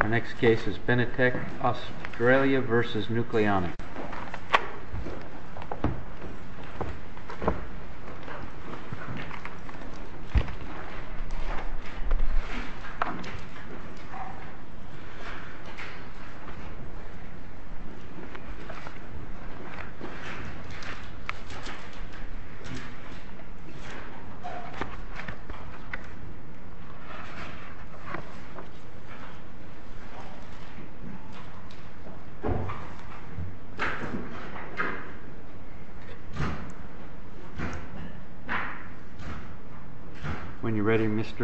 Our next case is Benitec Australia v. Nucleonics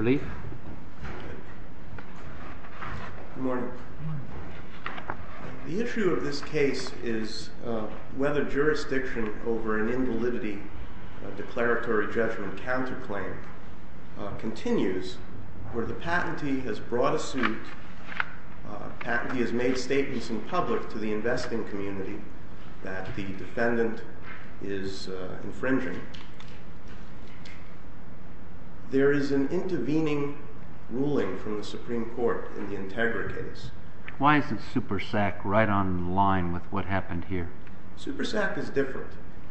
The issue of this case is whether jurisdiction over an invalidity declaratory judgment counterclaim continues where the patentee has made statements in public to the investing community that the defendant is infringing. There is an intervening ruling from the Supreme Court in the Integra case. Why isn't SuperSAC right on line with what happened here? SuperSAC is different.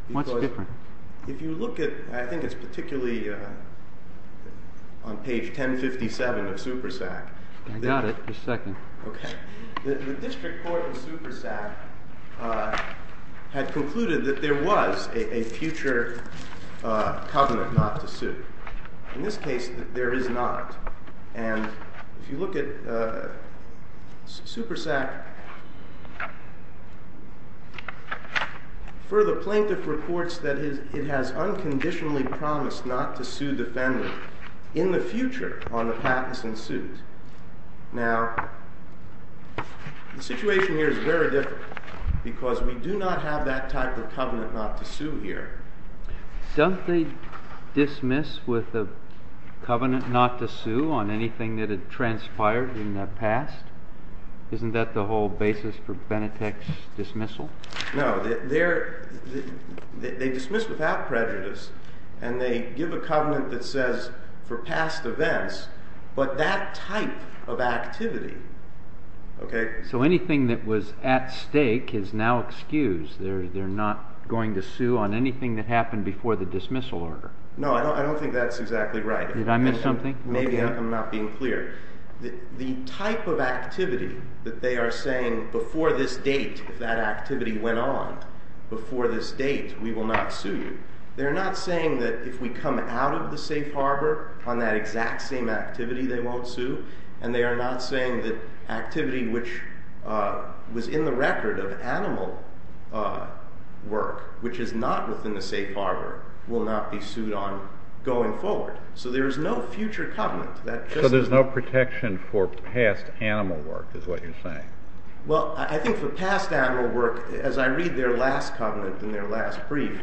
What's different? I think it's particularly on page 1057 of SuperSAC. I got it. Just a second. The district court in SuperSAC had concluded that there was a future covenant not to sue. In this case, there is not. And if you look at SuperSAC, for the plaintiff reports that it has unconditionally promised not to sue the defendant in the future on the patents in suit. Now, the situation here is very different because we do not have that type of covenant not to sue here. Don't they dismiss with a covenant not to sue on anything that had transpired in the past? Isn't that the whole basis for Benitec's dismissal? No. They dismiss without prejudice. And they give a covenant that says for past events, but that type of activity. So anything that was at stake is now excused. They're not going to sue on anything that happened before the dismissal order. No, I don't think that's exactly right. Did I miss something? Maybe I'm not being clear. The type of activity that they are saying before this date, if that activity went on, before this date, we will not sue you. They're not saying that if we come out of the safe harbor on that exact same activity, they won't sue. And they are not saying that activity which was in the record of animal work, which is not within the safe harbor, will not be sued on going forward. So there is no future covenant. So there's no protection for past animal work, is what you're saying? Well, I think for past animal work, as I read their last covenant in their last brief,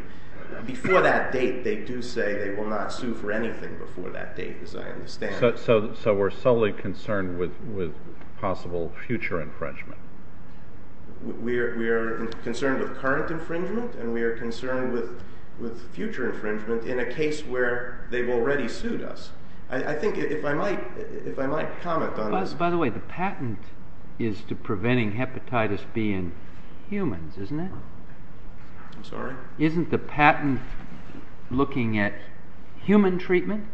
before that date, they do say they will not sue for anything before that date, as I understand it. So we're solely concerned with possible future infringement. We are concerned with current infringement, and we are concerned with future infringement in a case where they've already sued us. I think if I might comment on this. By the way, the patent is to preventing hepatitis B in humans, isn't it? I'm sorry? Isn't the patent looking at human treatment?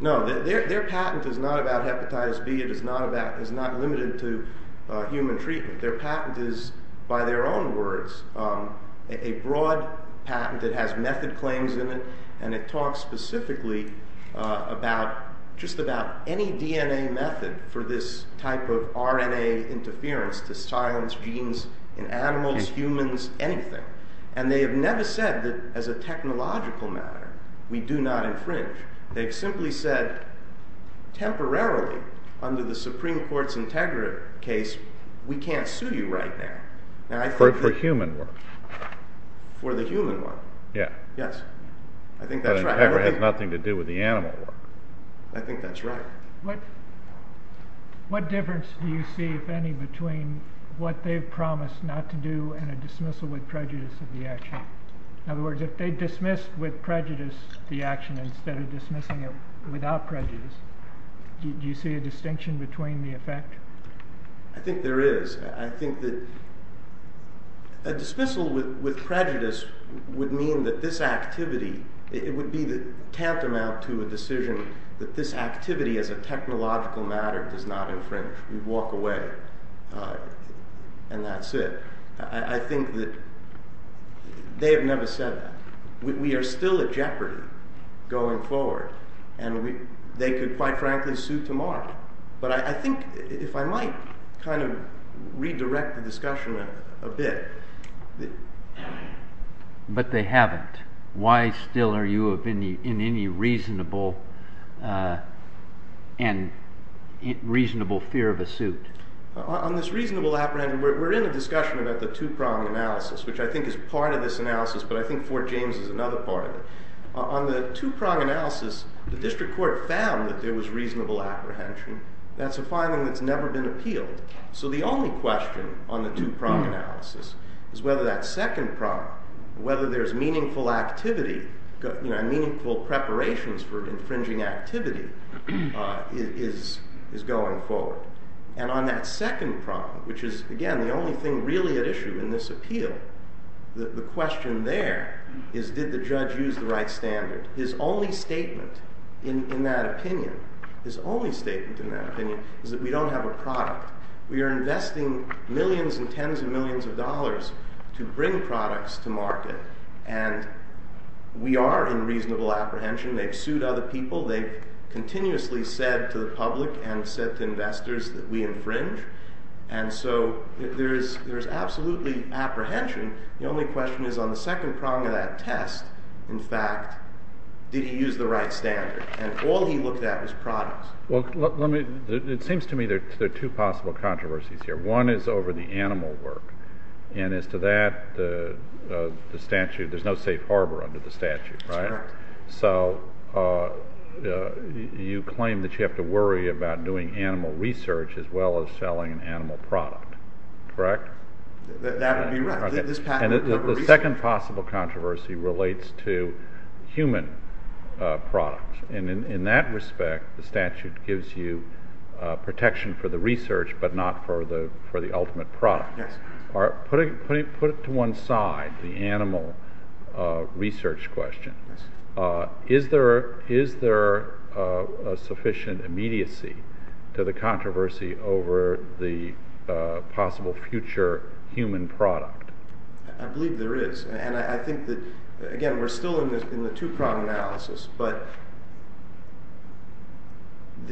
No, their patent is not about hepatitis B. It is not limited to human treatment. Their patent is, by their own words, a broad patent that has method claims in it, and it talks specifically about just about any DNA method for this type of RNA interference to silence genes in animals, humans, anything. And they have never said that as a technological matter, we do not infringe. They've simply said, temporarily, under the Supreme Court's Integra case, we can't sue you right now. For human work. For the human work. Yeah. Yes. I think that's right. But Integra has nothing to do with the animal work. I think that's right. What difference do you see, if any, between what they've promised not to do and a dismissal with prejudice of the action? In other words, if they dismissed with prejudice the action instead of dismissing it without prejudice, do you see a distinction between the effect? I think there is. I think that a dismissal with prejudice would mean that this activity, it would be tantamount to a decision that this activity as a technological matter does not infringe. We walk away. And that's it. I think that they have never said that. We are still at jeopardy going forward. And they could, quite frankly, sue tomorrow. But I think, if I might, kind of redirect the discussion a bit. But they haven't. Why still are you in any reasonable fear of a suit? On this reasonable apprehension, we're in a discussion about the two-prong analysis, which I think is part of this analysis. But I think Fort James is another part of it. On the two-prong analysis, the district court found that there was reasonable apprehension. That's a finding that's never been appealed. So the only question on the two-prong analysis is whether that second prong, whether there's meaningful activity, meaningful preparations for infringing activity, is going forward. And on that second prong, which is, again, the only thing really at issue in this appeal, the question there is did the judge use the right standard. His only statement in that opinion, his only statement in that opinion, is that we don't have a product. We are investing millions and tens of millions of dollars to bring products to market. And we are in reasonable apprehension. They've sued other people. They've continuously said to the public and said to investors that we infringe. And so there is absolutely apprehension. The only question is on the second prong of that test, in fact, did he use the right standard? And all he looked at was products. Well, it seems to me there are two possible controversies here. One is over the animal work. And as to that, the statute, there's no safe harbor under the statute, right? So you claim that you have to worry about doing animal research as well as selling an animal product, correct? That would be right. And the second possible controversy relates to human products. And in that respect, the statute gives you protection for the research but not for the ultimate product. Yes. Put it to one side, the animal research question. Is there a sufficient immediacy to the controversy over the possible future human product? I believe there is. And I think that, again, we're still in the two-prong analysis. But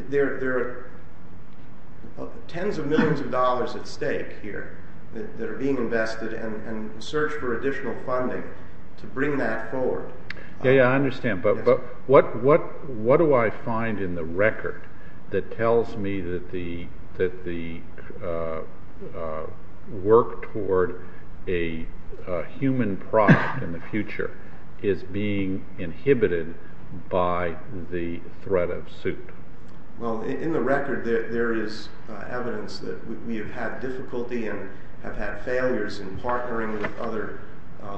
there are tens of millions of dollars at stake here that are being invested and the search for additional funding to bring that forward. Yeah, I understand. But what do I find in the record that tells me that the work toward a human product in the future is being inhibited by the threat of suit? Well, in the record, there is evidence that we have had difficulty and have had failures in partnering with other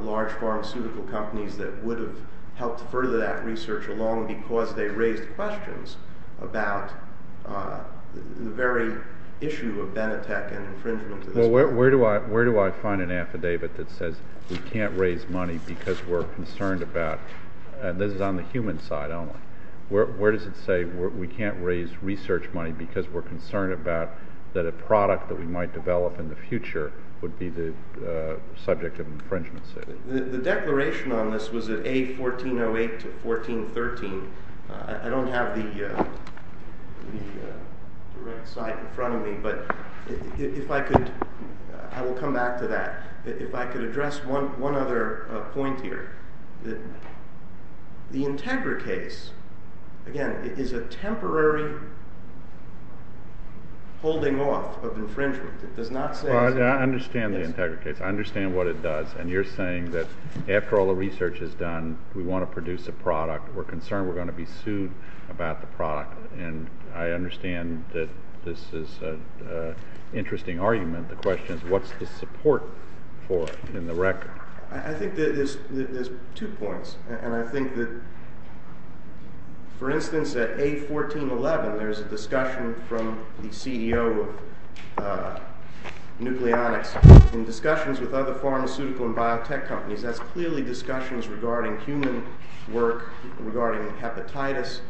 large pharmaceutical companies that would have helped further that research along because they raised questions about the very issue of Benetech and infringement. Well, where do I find an affidavit that says we can't raise money because we're concerned about this is on the human side only? Where does it say we can't raise research money because we're concerned about that a product that we might develop in the future would be the subject of infringement? The declaration on this was at A1408 to 1413. I don't have the right site in front of me. But if I could, I will come back to that. If I could address one other point here, the Integra case, again, is a temporary holding off of infringement. It does not say- Well, I understand the Integra case. I understand what it does. And you're saying that after all the research is done, we want to produce a product. We're concerned we're going to be sued about the product. And I understand that this is an interesting argument. The question is what's the support for in the record? I think there's two points. And I think that, for instance, at A1411, there's a discussion from the CEO of Nucleonics in discussions with other pharmaceutical and biotech companies. That's clearly discussions regarding human work, regarding hepatitis.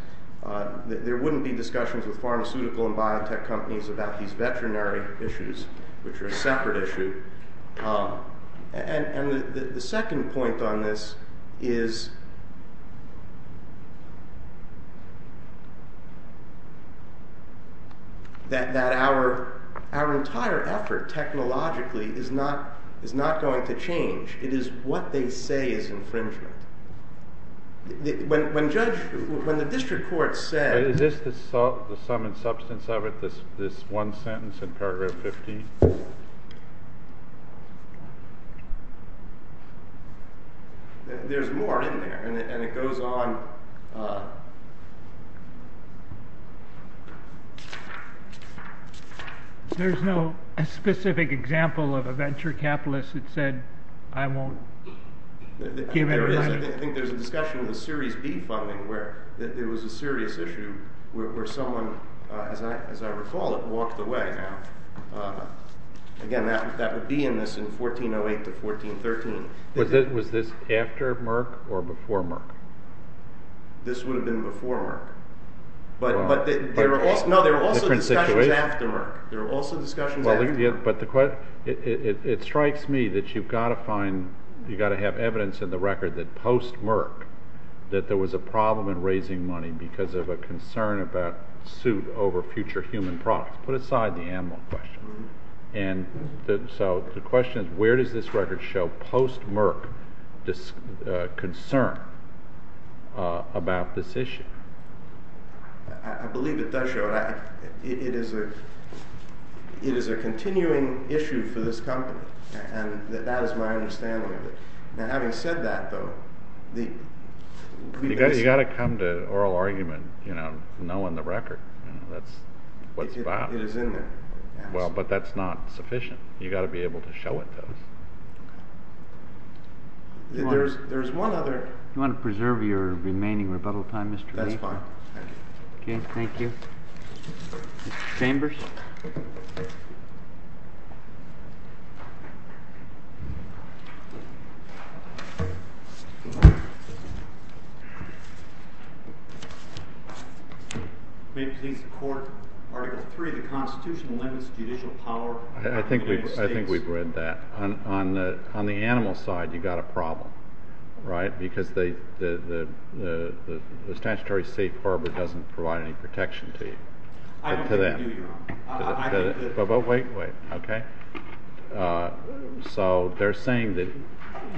There wouldn't be discussions with pharmaceutical and biotech companies about these veterinary issues, which are a separate issue. And the second point on this is that our entire effort technologically is not going to change. It is what they say is infringement. When the district court said- Is this the sum and substance of it, this one sentence in paragraph 50? There's more in there, and it goes on. There's no specific example of a venture capitalist that said, I won't give anybody- I think there's a discussion with the Series B funding where it was a serious issue where someone, as I recall it, walked away. Again, that would be in this in 1408 to 1413. Was this after Merck or before Merck? This would have been before Merck. But there are also discussions after Merck. It strikes me that you've got to have evidence in the record that post-Merck that there was a problem in raising money because of a concern about suit over future human products. Put aside the animal question. The question is, where does this record show post-Merck concern about this issue? I believe it does show that. It is a continuing issue for this company, and that is my understanding of it. Having said that, though- You've got to come to oral argument knowing the record. That's what's valid. It is in there. Well, but that's not sufficient. You've got to be able to show it, though. There's one other- Do you want to preserve your remaining rebuttal time, Mr. Latham? That's fine. Okay, thank you. Mr. Chambers? May it please the Court, Article 3, the Constitution limits judicial power- I think we've read that. On the animal side, you've got a problem, right? Because the statutory safe harbor doesn't provide any protection to them. I don't think you're wrong. But wait, wait, okay? So they're saying that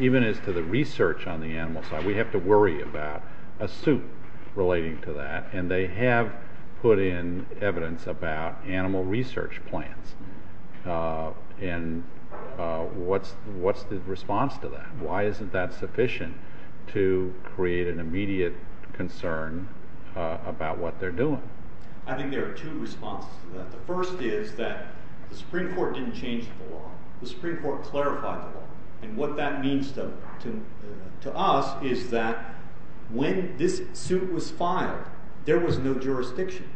even as to the research on the animal side, we have to worry about a suit relating to that, and they have put in evidence about animal research plans. And what's the response to that? Why isn't that sufficient to create an immediate concern about what they're doing? I think there are two responses to that. The first is that the Supreme Court didn't change the law. The Supreme Court clarified the law. And what that means to us is that when this suit was filed, there was no jurisdiction.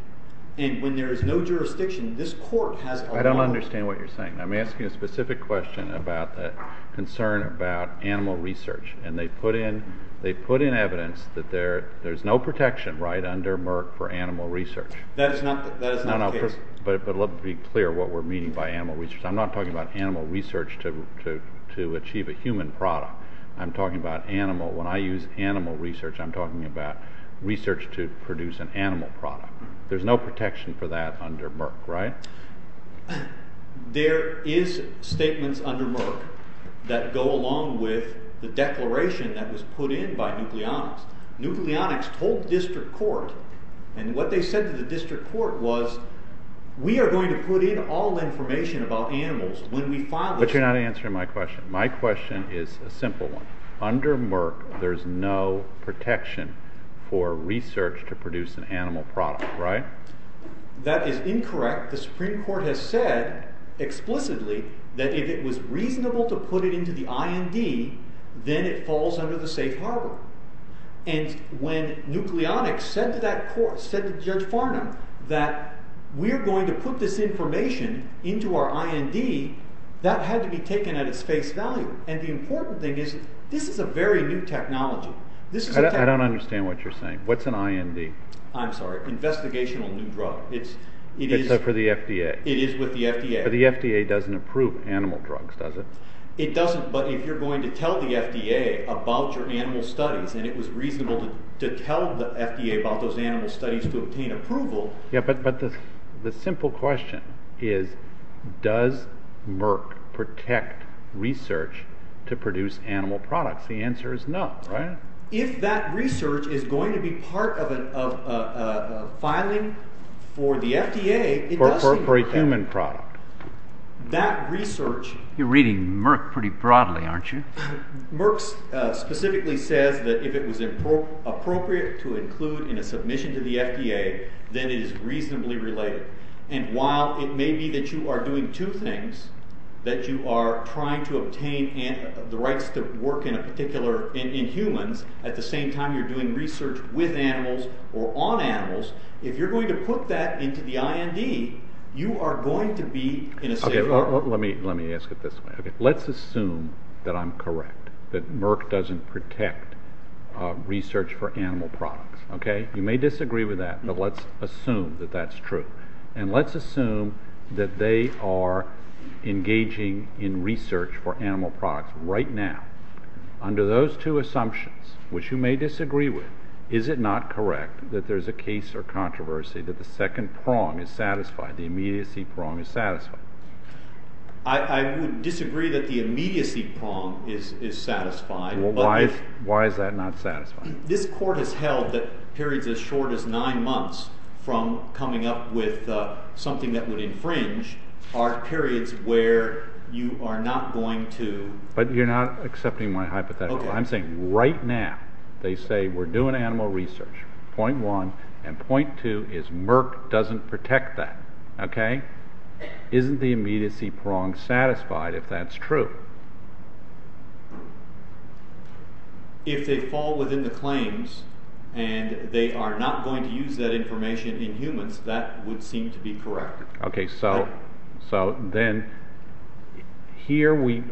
And when there is no jurisdiction, this Court has a lot- I don't understand what you're saying. I'm asking a specific question about the concern about animal research. And they put in evidence that there's no protection, right, under Merck for animal research. That is not the case. But let me be clear what we're meaning by animal research. I'm not talking about animal research to achieve a human product. I'm talking about animal. When I use animal research, I'm talking about research to produce an animal product. There's no protection for that under Merck, right? There is statements under Merck that go along with the declaration that was put in by nucleonics. Nucleonics told district court, and what they said to the district court was, we are going to put in all information about animals when we file this- But you're not answering my question. My question is a simple one. Under Merck, there's no protection for research to produce an animal product, right? That is incorrect. The Supreme Court has said explicitly that if it was reasonable to put it into the IND, then it falls under the safe harbor. And when nucleonics said to that court, said to Judge Farnham, that we are going to put this information into our IND, that had to be taken at its face value. And the important thing is, this is a very new technology. I don't understand what you're saying. What's an IND? I'm sorry, investigational new drug. Except for the FDA. It is with the FDA. But the FDA doesn't approve animal drugs, does it? It doesn't, but if you're going to tell the FDA about your animal studies, and it was reasonable to tell the FDA about those animal studies to obtain approval- Yeah, but the simple question is, does Merck protect research to produce animal products? The answer is no, right? If that research is going to be part of a filing for the FDA- For a human product. That research- You're reading Merck pretty broadly, aren't you? Merck specifically says that if it was appropriate to include in a submission to the FDA, then it is reasonably related. And while it may be that you are doing two things, that you are trying to obtain the rights to work in humans, at the same time you're doing research with animals or on animals, if you're going to put that into the IND, you are going to be- Let me ask it this way. Let's assume that I'm correct, that Merck doesn't protect research for animal products. You may disagree with that, but let's assume that that's true. And let's assume that they are engaging in research for animal products right now. Under those two assumptions, which you may disagree with, is it not correct that there's a case or controversy that the second prong is satisfied, the immediacy prong is satisfied? I would disagree that the immediacy prong is satisfied. Why is that not satisfying? This court has held that periods as short as nine months from coming up with something that would infringe are periods where you are not going to- But you're not accepting my hypothetical. I'm saying right now they say we're doing animal research, point one. And point two is Merck doesn't protect that. Okay? Isn't the immediacy prong satisfied if that's true? If they fall within the claims and they are not going to use that information in humans, that would seem to be correct. Okay. So then here we,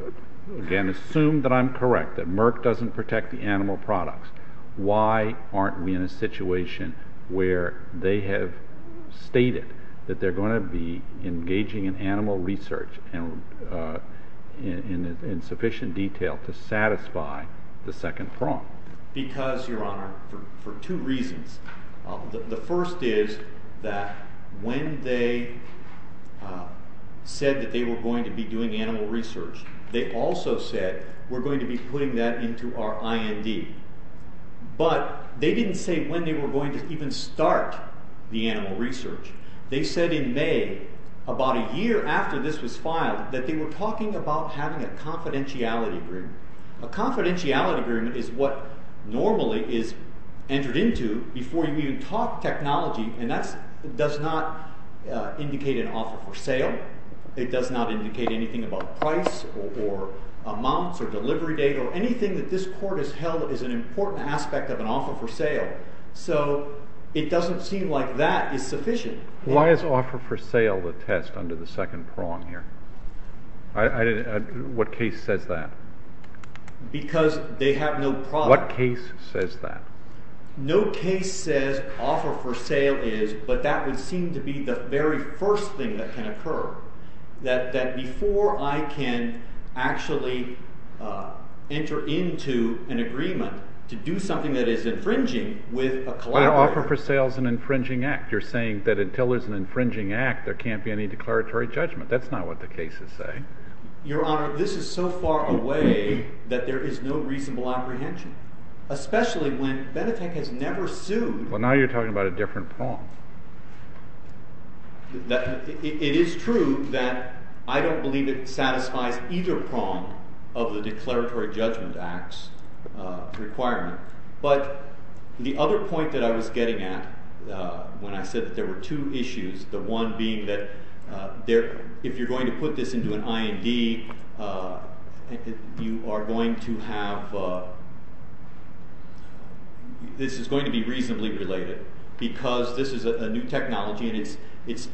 again, assume that I'm correct, that Merck doesn't protect the animal products. Why aren't we in a situation where they have stated that they're going to be engaging in animal research in sufficient detail to satisfy the second prong? Because, Your Honor, for two reasons. The first is that when they said that they were going to be doing animal research, they also said we're going to be putting that into our IND. But they didn't say when they were going to even start the animal research. They said in May, about a year after this was filed, that they were talking about having a confidentiality agreement. A confidentiality agreement is what normally is entered into before you even talk technology, and that does not indicate an offer for sale. It does not indicate anything about price or amounts or delivery date or anything that this court has held is an important aspect of an offer for sale. So it doesn't seem like that is sufficient. Why is offer for sale the test under the second prong here? What case says that? Because they have no product. What case says that? No case says offer for sale is, but that would seem to be the very first thing that can occur. That before I can actually enter into an agreement to do something that is infringing with a collaborator. But an offer for sale is an infringing act. You're saying that until there's an infringing act, there can't be any declaratory judgment. That's not what the cases say. Your Honor, this is so far away that there is no reasonable apprehension, especially when Benetech has never sued. Well, now you're talking about a different prong. It is true that I don't believe it satisfies either prong of the Declaratory Judgment Act's requirement. But the other point that I was getting at when I said that there were two issues, the one being that if you're going to put this into an IND, you are going to have, this is going to be reasonably related, because this is a new technology and it's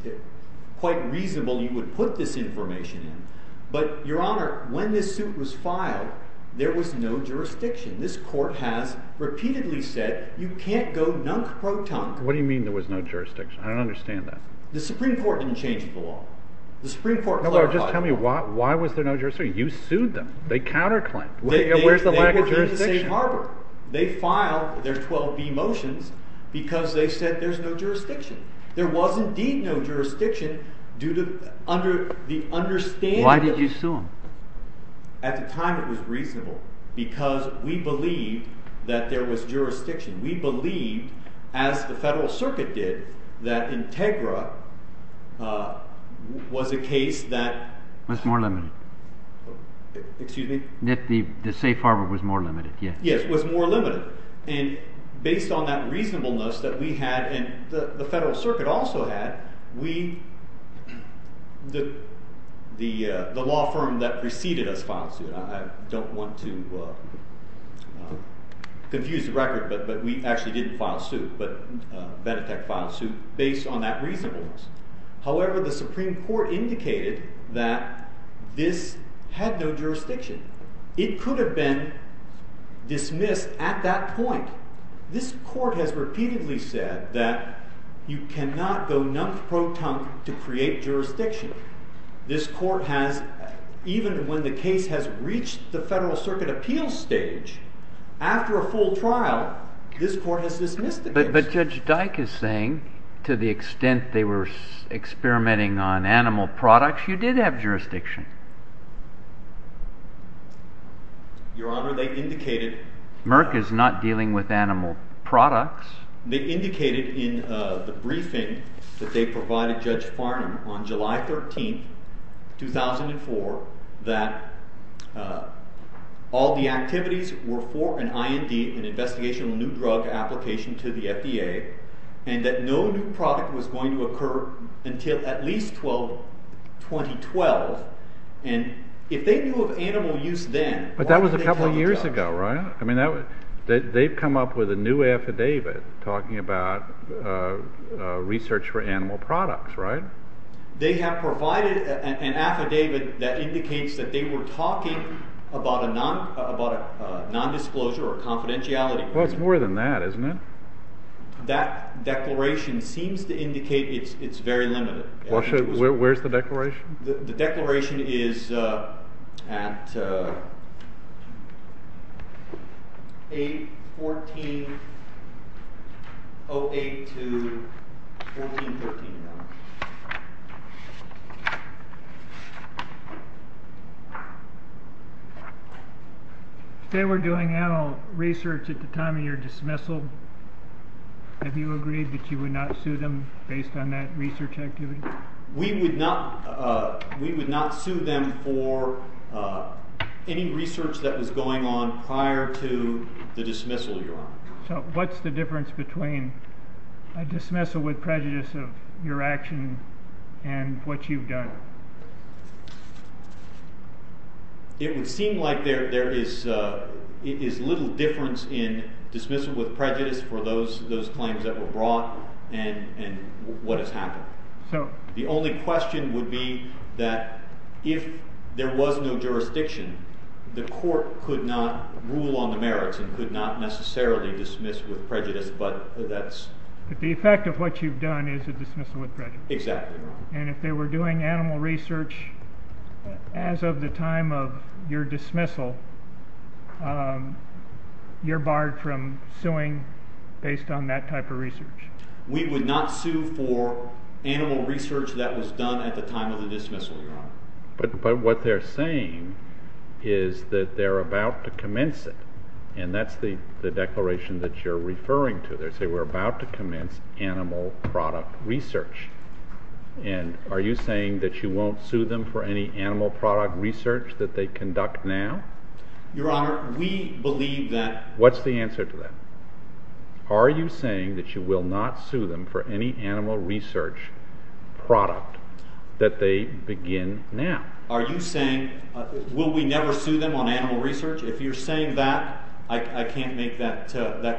quite reasonable you would put this information in. But, Your Honor, when this suit was filed, there was no jurisdiction. This Court has repeatedly said you can't go nunk-pro-tunk. What do you mean there was no jurisdiction? I don't understand that. The Supreme Court didn't change the law. Just tell me why was there no jurisdiction? You sued them. They counter-claimed. Where's the lack of jurisdiction? They were from the same harbor. They filed their 12B motions because they said there's no jurisdiction. There was indeed no jurisdiction due to the understanding… Why did you sue them? At the time it was reasonable because we believed that there was jurisdiction. We believed, as the Federal Circuit did, that Integra was a case that… Was more limited. Excuse me? That the safe harbor was more limited, yes. Yes, was more limited. And based on that reasonableness that we had and the Federal Circuit also had, we, the law firm that preceded us filed the suit. I don't want to confuse the record, but we actually didn't file a suit, but Benetech filed a suit based on that reasonableness. However, the Supreme Court indicated that this had no jurisdiction. It could have been dismissed at that point. This Court has repeatedly said that you cannot go nunk-pro-tunk to create jurisdiction. This Court has, even when the case has reached the Federal Circuit appeals stage, after a full trial, this Court has dismissed it. But Judge Dyke is saying, to the extent they were experimenting on animal products, you did have jurisdiction. Your Honor, they indicated… Merck is not dealing with animal products. They indicated in the briefing that they provided Judge Farnam on July 13, 2004, that all the activities were for an IND, an Investigational New Drug, application to the FDA, and that no new product was going to occur until at least 2012. And if they knew of animal use then… But that was a couple of years ago, right? I mean, they've come up with a new affidavit talking about research for animal products, right? They have provided an affidavit that indicates that they were talking about a nondisclosure or confidentiality. Well, it's more than that, isn't it? That declaration seems to indicate it's very limited. Well, where's the declaration? The declaration is at 8-14-08 to 14-13, Your Honor. They were doing animal research at the time of your dismissal. Have you agreed that you would not sue them based on that research activity? We would not sue them for any research that was going on prior to the dismissal, Your Honor. So what's the difference between a dismissal with prejudice of your action and what you've done? It would seem like there is little difference in dismissal with prejudice for those claims that were brought and what has happened. The only question would be that if there was no jurisdiction, the court could not rule on the merits and could not necessarily dismiss with prejudice, but that's... But the effect of what you've done is a dismissal with prejudice. Exactly, Your Honor. And if they were doing animal research as of the time of your dismissal, you're barred from suing based on that type of research. We would not sue for animal research that was done at the time of the dismissal, Your Honor. But what they're saying is that they're about to commence it, and that's the declaration that you're referring to. They say we're about to commence animal product research. And are you saying that you won't sue them for any animal product research that they conduct now? Your Honor, we believe that... What's the answer to that? Are you saying that you will not sue them for any animal research product that they begin now? Are you saying, will we never sue them on animal research? If you're saying that, I can't make that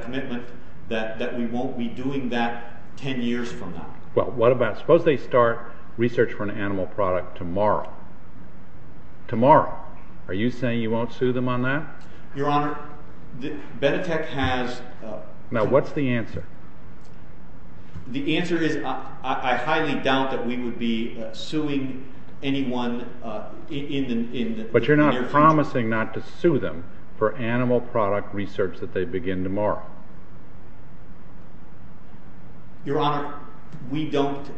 commitment that we won't be doing that ten years from now. Well, what about, suppose they start research for an animal product tomorrow. Tomorrow. Are you saying you won't sue them on that? Your Honor, Benetech has... Now, what's the answer? The answer is, I highly doubt that we would be suing anyone in the near future. But you're not promising not to sue them for animal product research that they begin tomorrow. Your Honor, we don't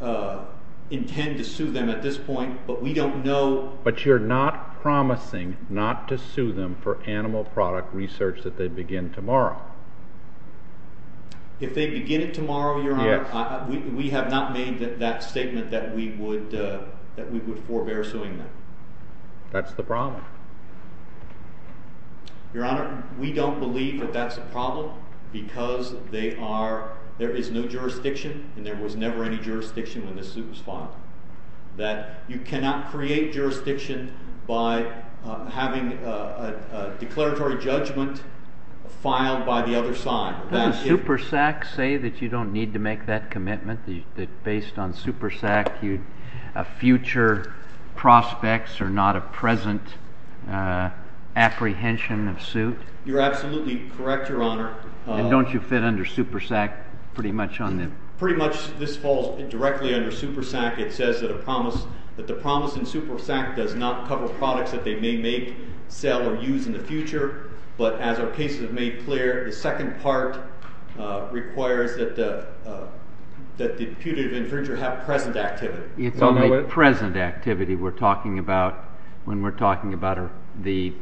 intend to sue them at this point, but we don't know... But you're not promising not to sue them for animal product research that they begin tomorrow. If they begin it tomorrow, Your Honor, we have not made that statement that we would forebear suing them. That's the problem. Your Honor, we don't believe that that's a problem because there is no jurisdiction, and there was never any jurisdiction when this suit was filed. You cannot create jurisdiction by having a declaratory judgment filed by the other side. Doesn't SuperSAC say that you don't need to make that commitment? That based on SuperSAC, future prospects are not a present apprehension of suit? You're absolutely correct, Your Honor. And don't you fit under SuperSAC pretty much on them? Pretty much this falls directly under SuperSAC. It says that the promise in SuperSAC does not cover products that they may make, sell, or use in the future. But as our cases have made clear, the second part requires that the putative infringer have present activity. It's only present activity we're talking about when we're talking about the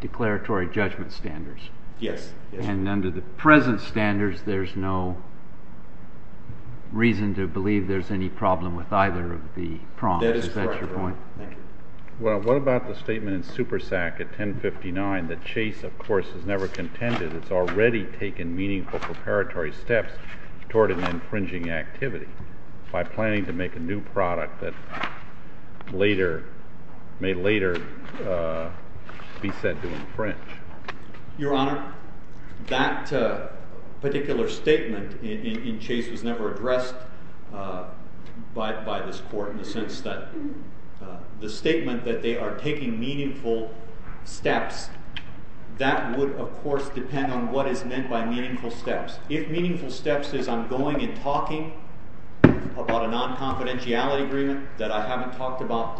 declaratory judgment standards. Yes. And under the present standards, there's no reason to believe there's any problem with either of the prompts? That is correct, Your Honor. Is that your point? Thank you. Well, what about the statement in SuperSAC at 1059 that Chase, of course, has never contended it's already taken meaningful preparatory steps toward an infringing activity by planning to make a new product that may later be said to infringe? Your Honor, that particular statement in Chase was never addressed by this court in the sense that the statement that they are taking meaningful steps, that would, of course, depend on what is meant by meaningful steps. If meaningful steps is I'm going and talking about a non-confidentiality agreement that I haven't talked about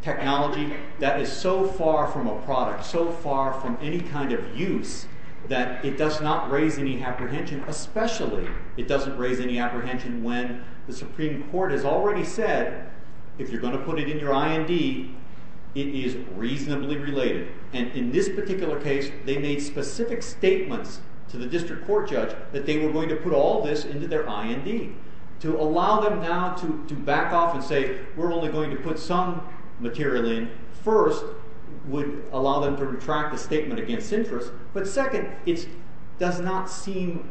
technology, that is so far from a product, so far from any kind of use, that it does not raise any apprehension, especially it doesn't raise any apprehension when the Supreme Court has already said, if you're going to put it in your IND, it is reasonably related. And in this particular case, they made specific statements to the district court judge that they were going to put all this into their IND. To allow them now to back off and say we're only going to put some material in, first, would allow them to retract the statement against interest, but second, it does not seem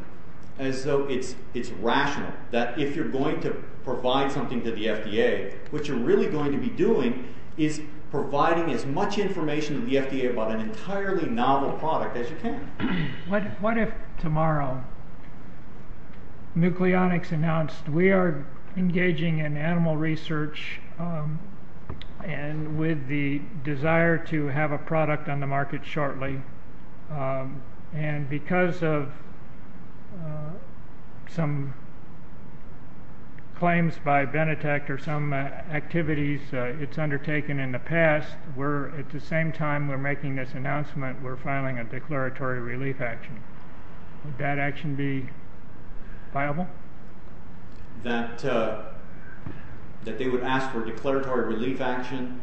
as though it's rational that if you're going to provide something to the FDA, what you're really going to be doing is providing as much information to the FDA about an entirely novel product as you can. What if tomorrow Nucleonics announced we are engaging in animal research, and with the desire to have a product on the market shortly, and because of some claims by Benetech or some activities it's undertaken in the past, at the same time we're making this announcement, we're filing a declaratory relief action. Would that action be viable? That they would ask for a declaratory relief action?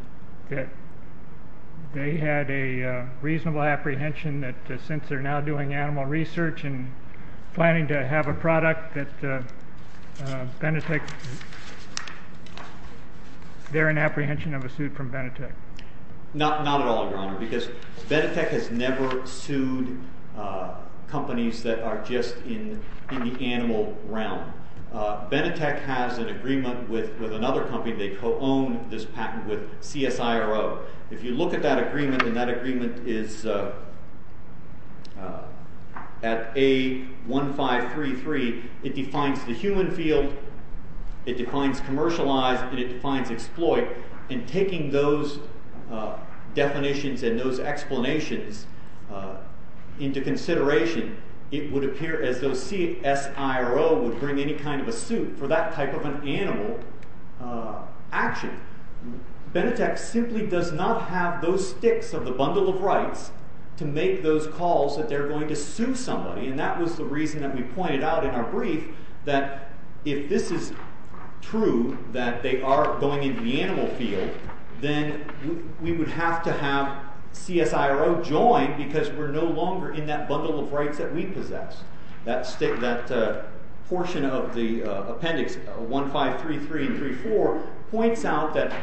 They had a reasonable apprehension that since they're now doing animal research and planning to have a product, they're in apprehension of a suit from Benetech? Not at all, Your Honor, because Benetech has never sued companies that are just in the animal realm. Benetech has an agreement with another company. They co-own this patent with CSIRO. If you look at that agreement, and that agreement is at A1533, it defines the human field, it defines commercialized, and it defines exploit. And taking those definitions and those explanations into consideration, it would appear as though CSIRO would bring any kind of a suit for that type of an animal action. Benetech simply does not have those sticks of the bundle of rights to make those calls that they're going to sue somebody, and that was the reason that we pointed out in our brief that if this is true, that they are going into the animal field, then we would have to have CSIRO join because we're no longer in that bundle of rights that we possess. That portion of the appendix, A1533 and A1534, points out that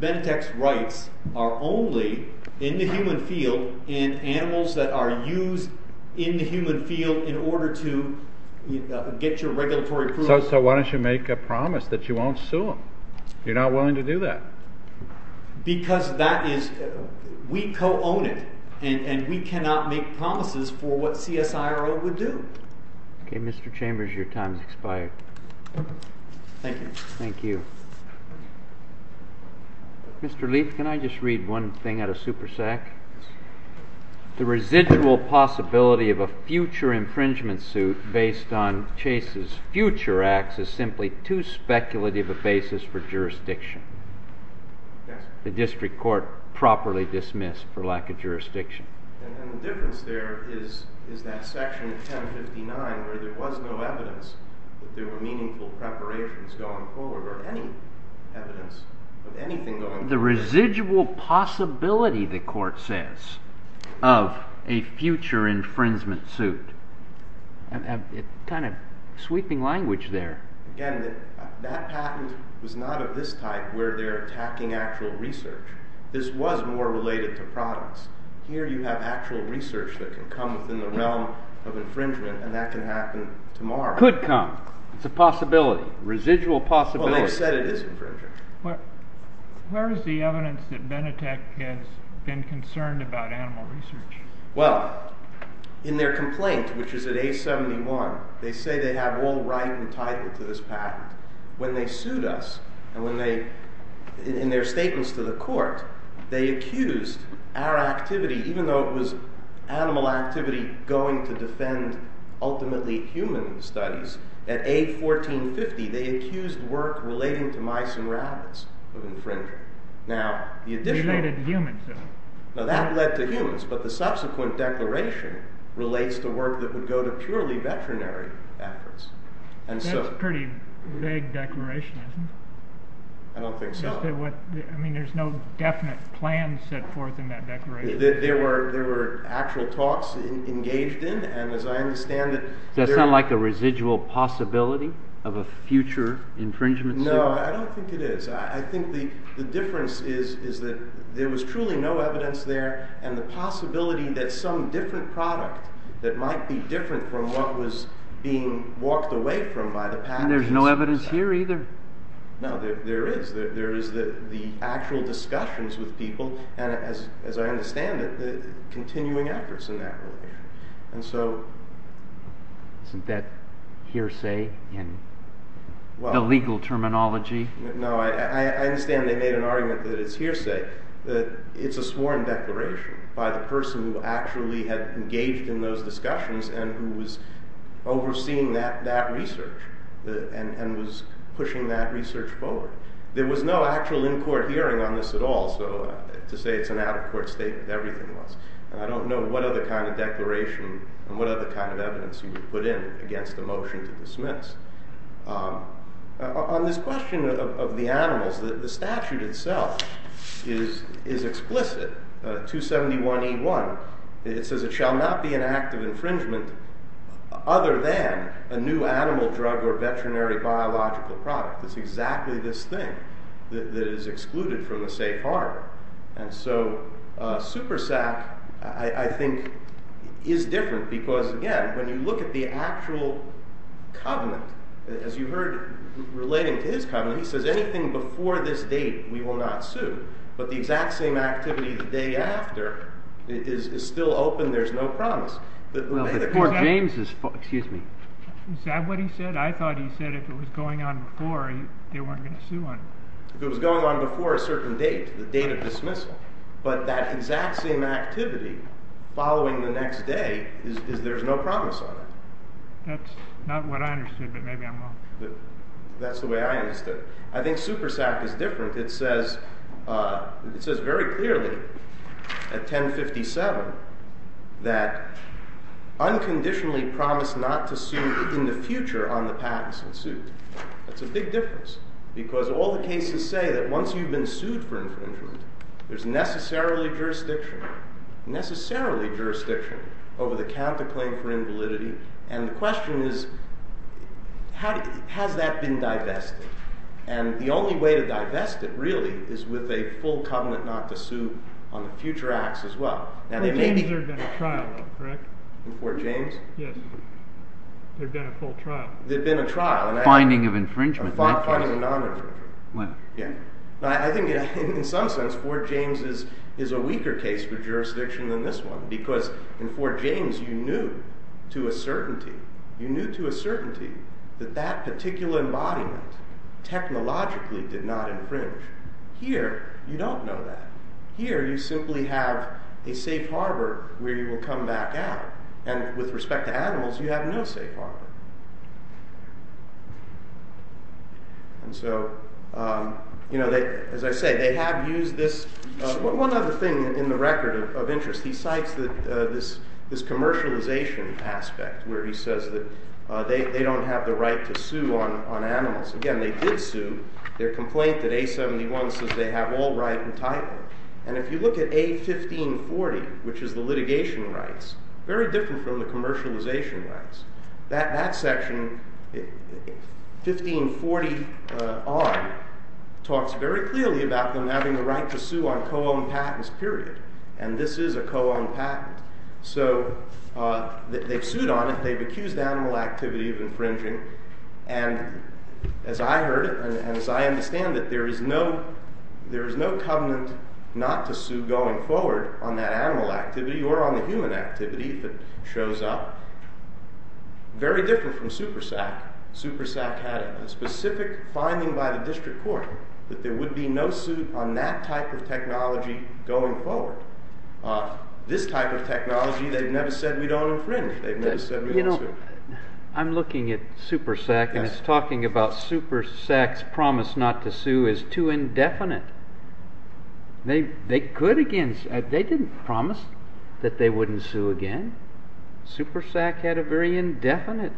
Benetech's rights are only in the human field, in animals that are used in the human field in order to get your regulatory approval. So why don't you make a promise that you won't sue them? You're not willing to do that. Because that is—we co-own it, and we cannot make promises for what CSIRO would do. Okay, Mr. Chambers, your time has expired. Thank you. Thank you. Mr. Leith, can I just read one thing out of SuperSAC? The residual possibility of a future infringement suit based on Chase's future acts is simply too speculative a basis for jurisdiction. The district court properly dismissed for lack of jurisdiction. And the difference there is that section 1059 where there was no evidence that there were meaningful preparations going forward, or any evidence of anything going forward. The residual possibility, the court says, of a future infringement suit. Kind of sweeping language there. Again, that patent was not of this type where they're attacking actual research. This was more related to products. Here you have actual research that can come within the realm of infringement, and that can happen tomorrow. Could come. It's a possibility. Residual possibility. Well, they said it is infringement. Where is the evidence that Benetech has been concerned about animal research? Well, in their complaint, which is at A71, they say they have all right and title to this patent. When they sued us, in their statements to the court, they accused our activity, even though it was animal activity going to defend ultimately human studies, at A1450 they accused work relating to mice and rabbits of infringement. Related to humans, though. That led to humans, but the subsequent declaration relates to work that would go to purely veterinary efforts. That's a pretty vague declaration, isn't it? I don't think so. I mean, there's no definite plan set forth in that declaration. There were actual talks engaged in, and as I understand it... Does that sound like a residual possibility of a future infringement suit? No, I don't think it is. I think the difference is that there was truly no evidence there, and the possibility that some different product, that might be different from what was being walked away from by the patent... And there's no evidence here either? No, there is. There is the actual discussions with people, and as I understand it, the continuing efforts in that relation. And so... Isn't that hearsay in the legal terminology? No, I understand they made an argument that it's hearsay. It's a sworn declaration by the person who actually had engaged in those discussions and who was overseeing that research and was pushing that research forward. There was no actual in-court hearing on this at all, so to say it's an out-of-court statement, everything was. And I don't know what other kind of declaration and what other kind of evidence he would put in against the motion to dismiss. On this question of the animals, the statute itself is explicit, 271E1. It says it shall not be an act of infringement other than a new animal, drug, or veterinary biological product. It's exactly this thing that is excluded from a safe harbor. And so, SuperSAC, I think, is different because, again, when you look at the actual covenant, as you heard relating to his covenant, he says anything before this date we will not sue. But the exact same activity the day after is still open. There's no promise. Well, before James's... Excuse me. Is that what he said? I thought he said if it was going on before, they weren't going to sue him. If it was going on before a certain date, the date of dismissal. But that exact same activity following the next day is there's no promise on it. That's not what I understood, but maybe I'm wrong. That's the way I understood it. I think SuperSAC is different. It says very clearly at 1057 that unconditionally promise not to sue in the future on the patents ensued. That's a big difference because all the cases say that once you've been sued for infringement, there's necessarily jurisdiction over the counterclaim for invalidity. And the question is, has that been divested? And the only way to divest it, really, is with a full covenant not to sue on the future acts as well. Before James there had been a trial, though, correct? Before James? Yes. There had been a full trial. There had been a trial. A finding of infringement. A finding of non-infringement. I think in some sense Fort James is a weaker case for jurisdiction than this one because in Fort James you knew to a certainty that that particular embodiment technologically did not infringe. Here you don't know that. Here you simply have a safe harbor where you will come back out. And with respect to animals, you have no safe harbor. And so, as I say, they have used this. One other thing in the record of interest, he cites this commercialization aspect where he says that they don't have the right to sue on animals. Again, they did sue. Their complaint at A71 says they have all right and title. And if you look at A1540, which is the litigation rights, very different from the commercialization rights, that section, A1540 on, talks very clearly about them having the right to sue on co-owned patents, period. And this is a co-owned patent. So they've sued on it. They've accused animal activity of infringing. And as I heard and as I understand it, there is no covenant not to sue going forward on that animal activity or on the human activity that shows up. Very different from SuperSAC. SuperSAC had a specific finding by the district court that there would be no suit on that type of technology going forward. This type of technology, they've never said we don't infringe. They've never said we don't sue. You know, I'm looking at SuperSAC and it's talking about SuperSAC's promise not to sue is too indefinite. They didn't promise that they wouldn't sue again. SuperSAC had a very indefinite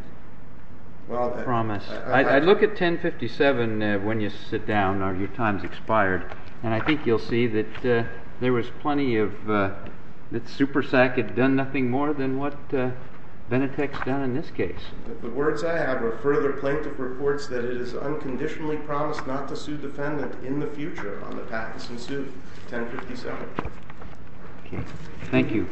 promise. I look at 1057 when you sit down, or your time's expired, and I think you'll see that there was plenty of, that SuperSAC had done nothing more than what Benetech's done in this case. The words I have are further plaintiff reports that it is unconditionally promised not to sue defendant in the future on the patents ensued, 1057. Thank you.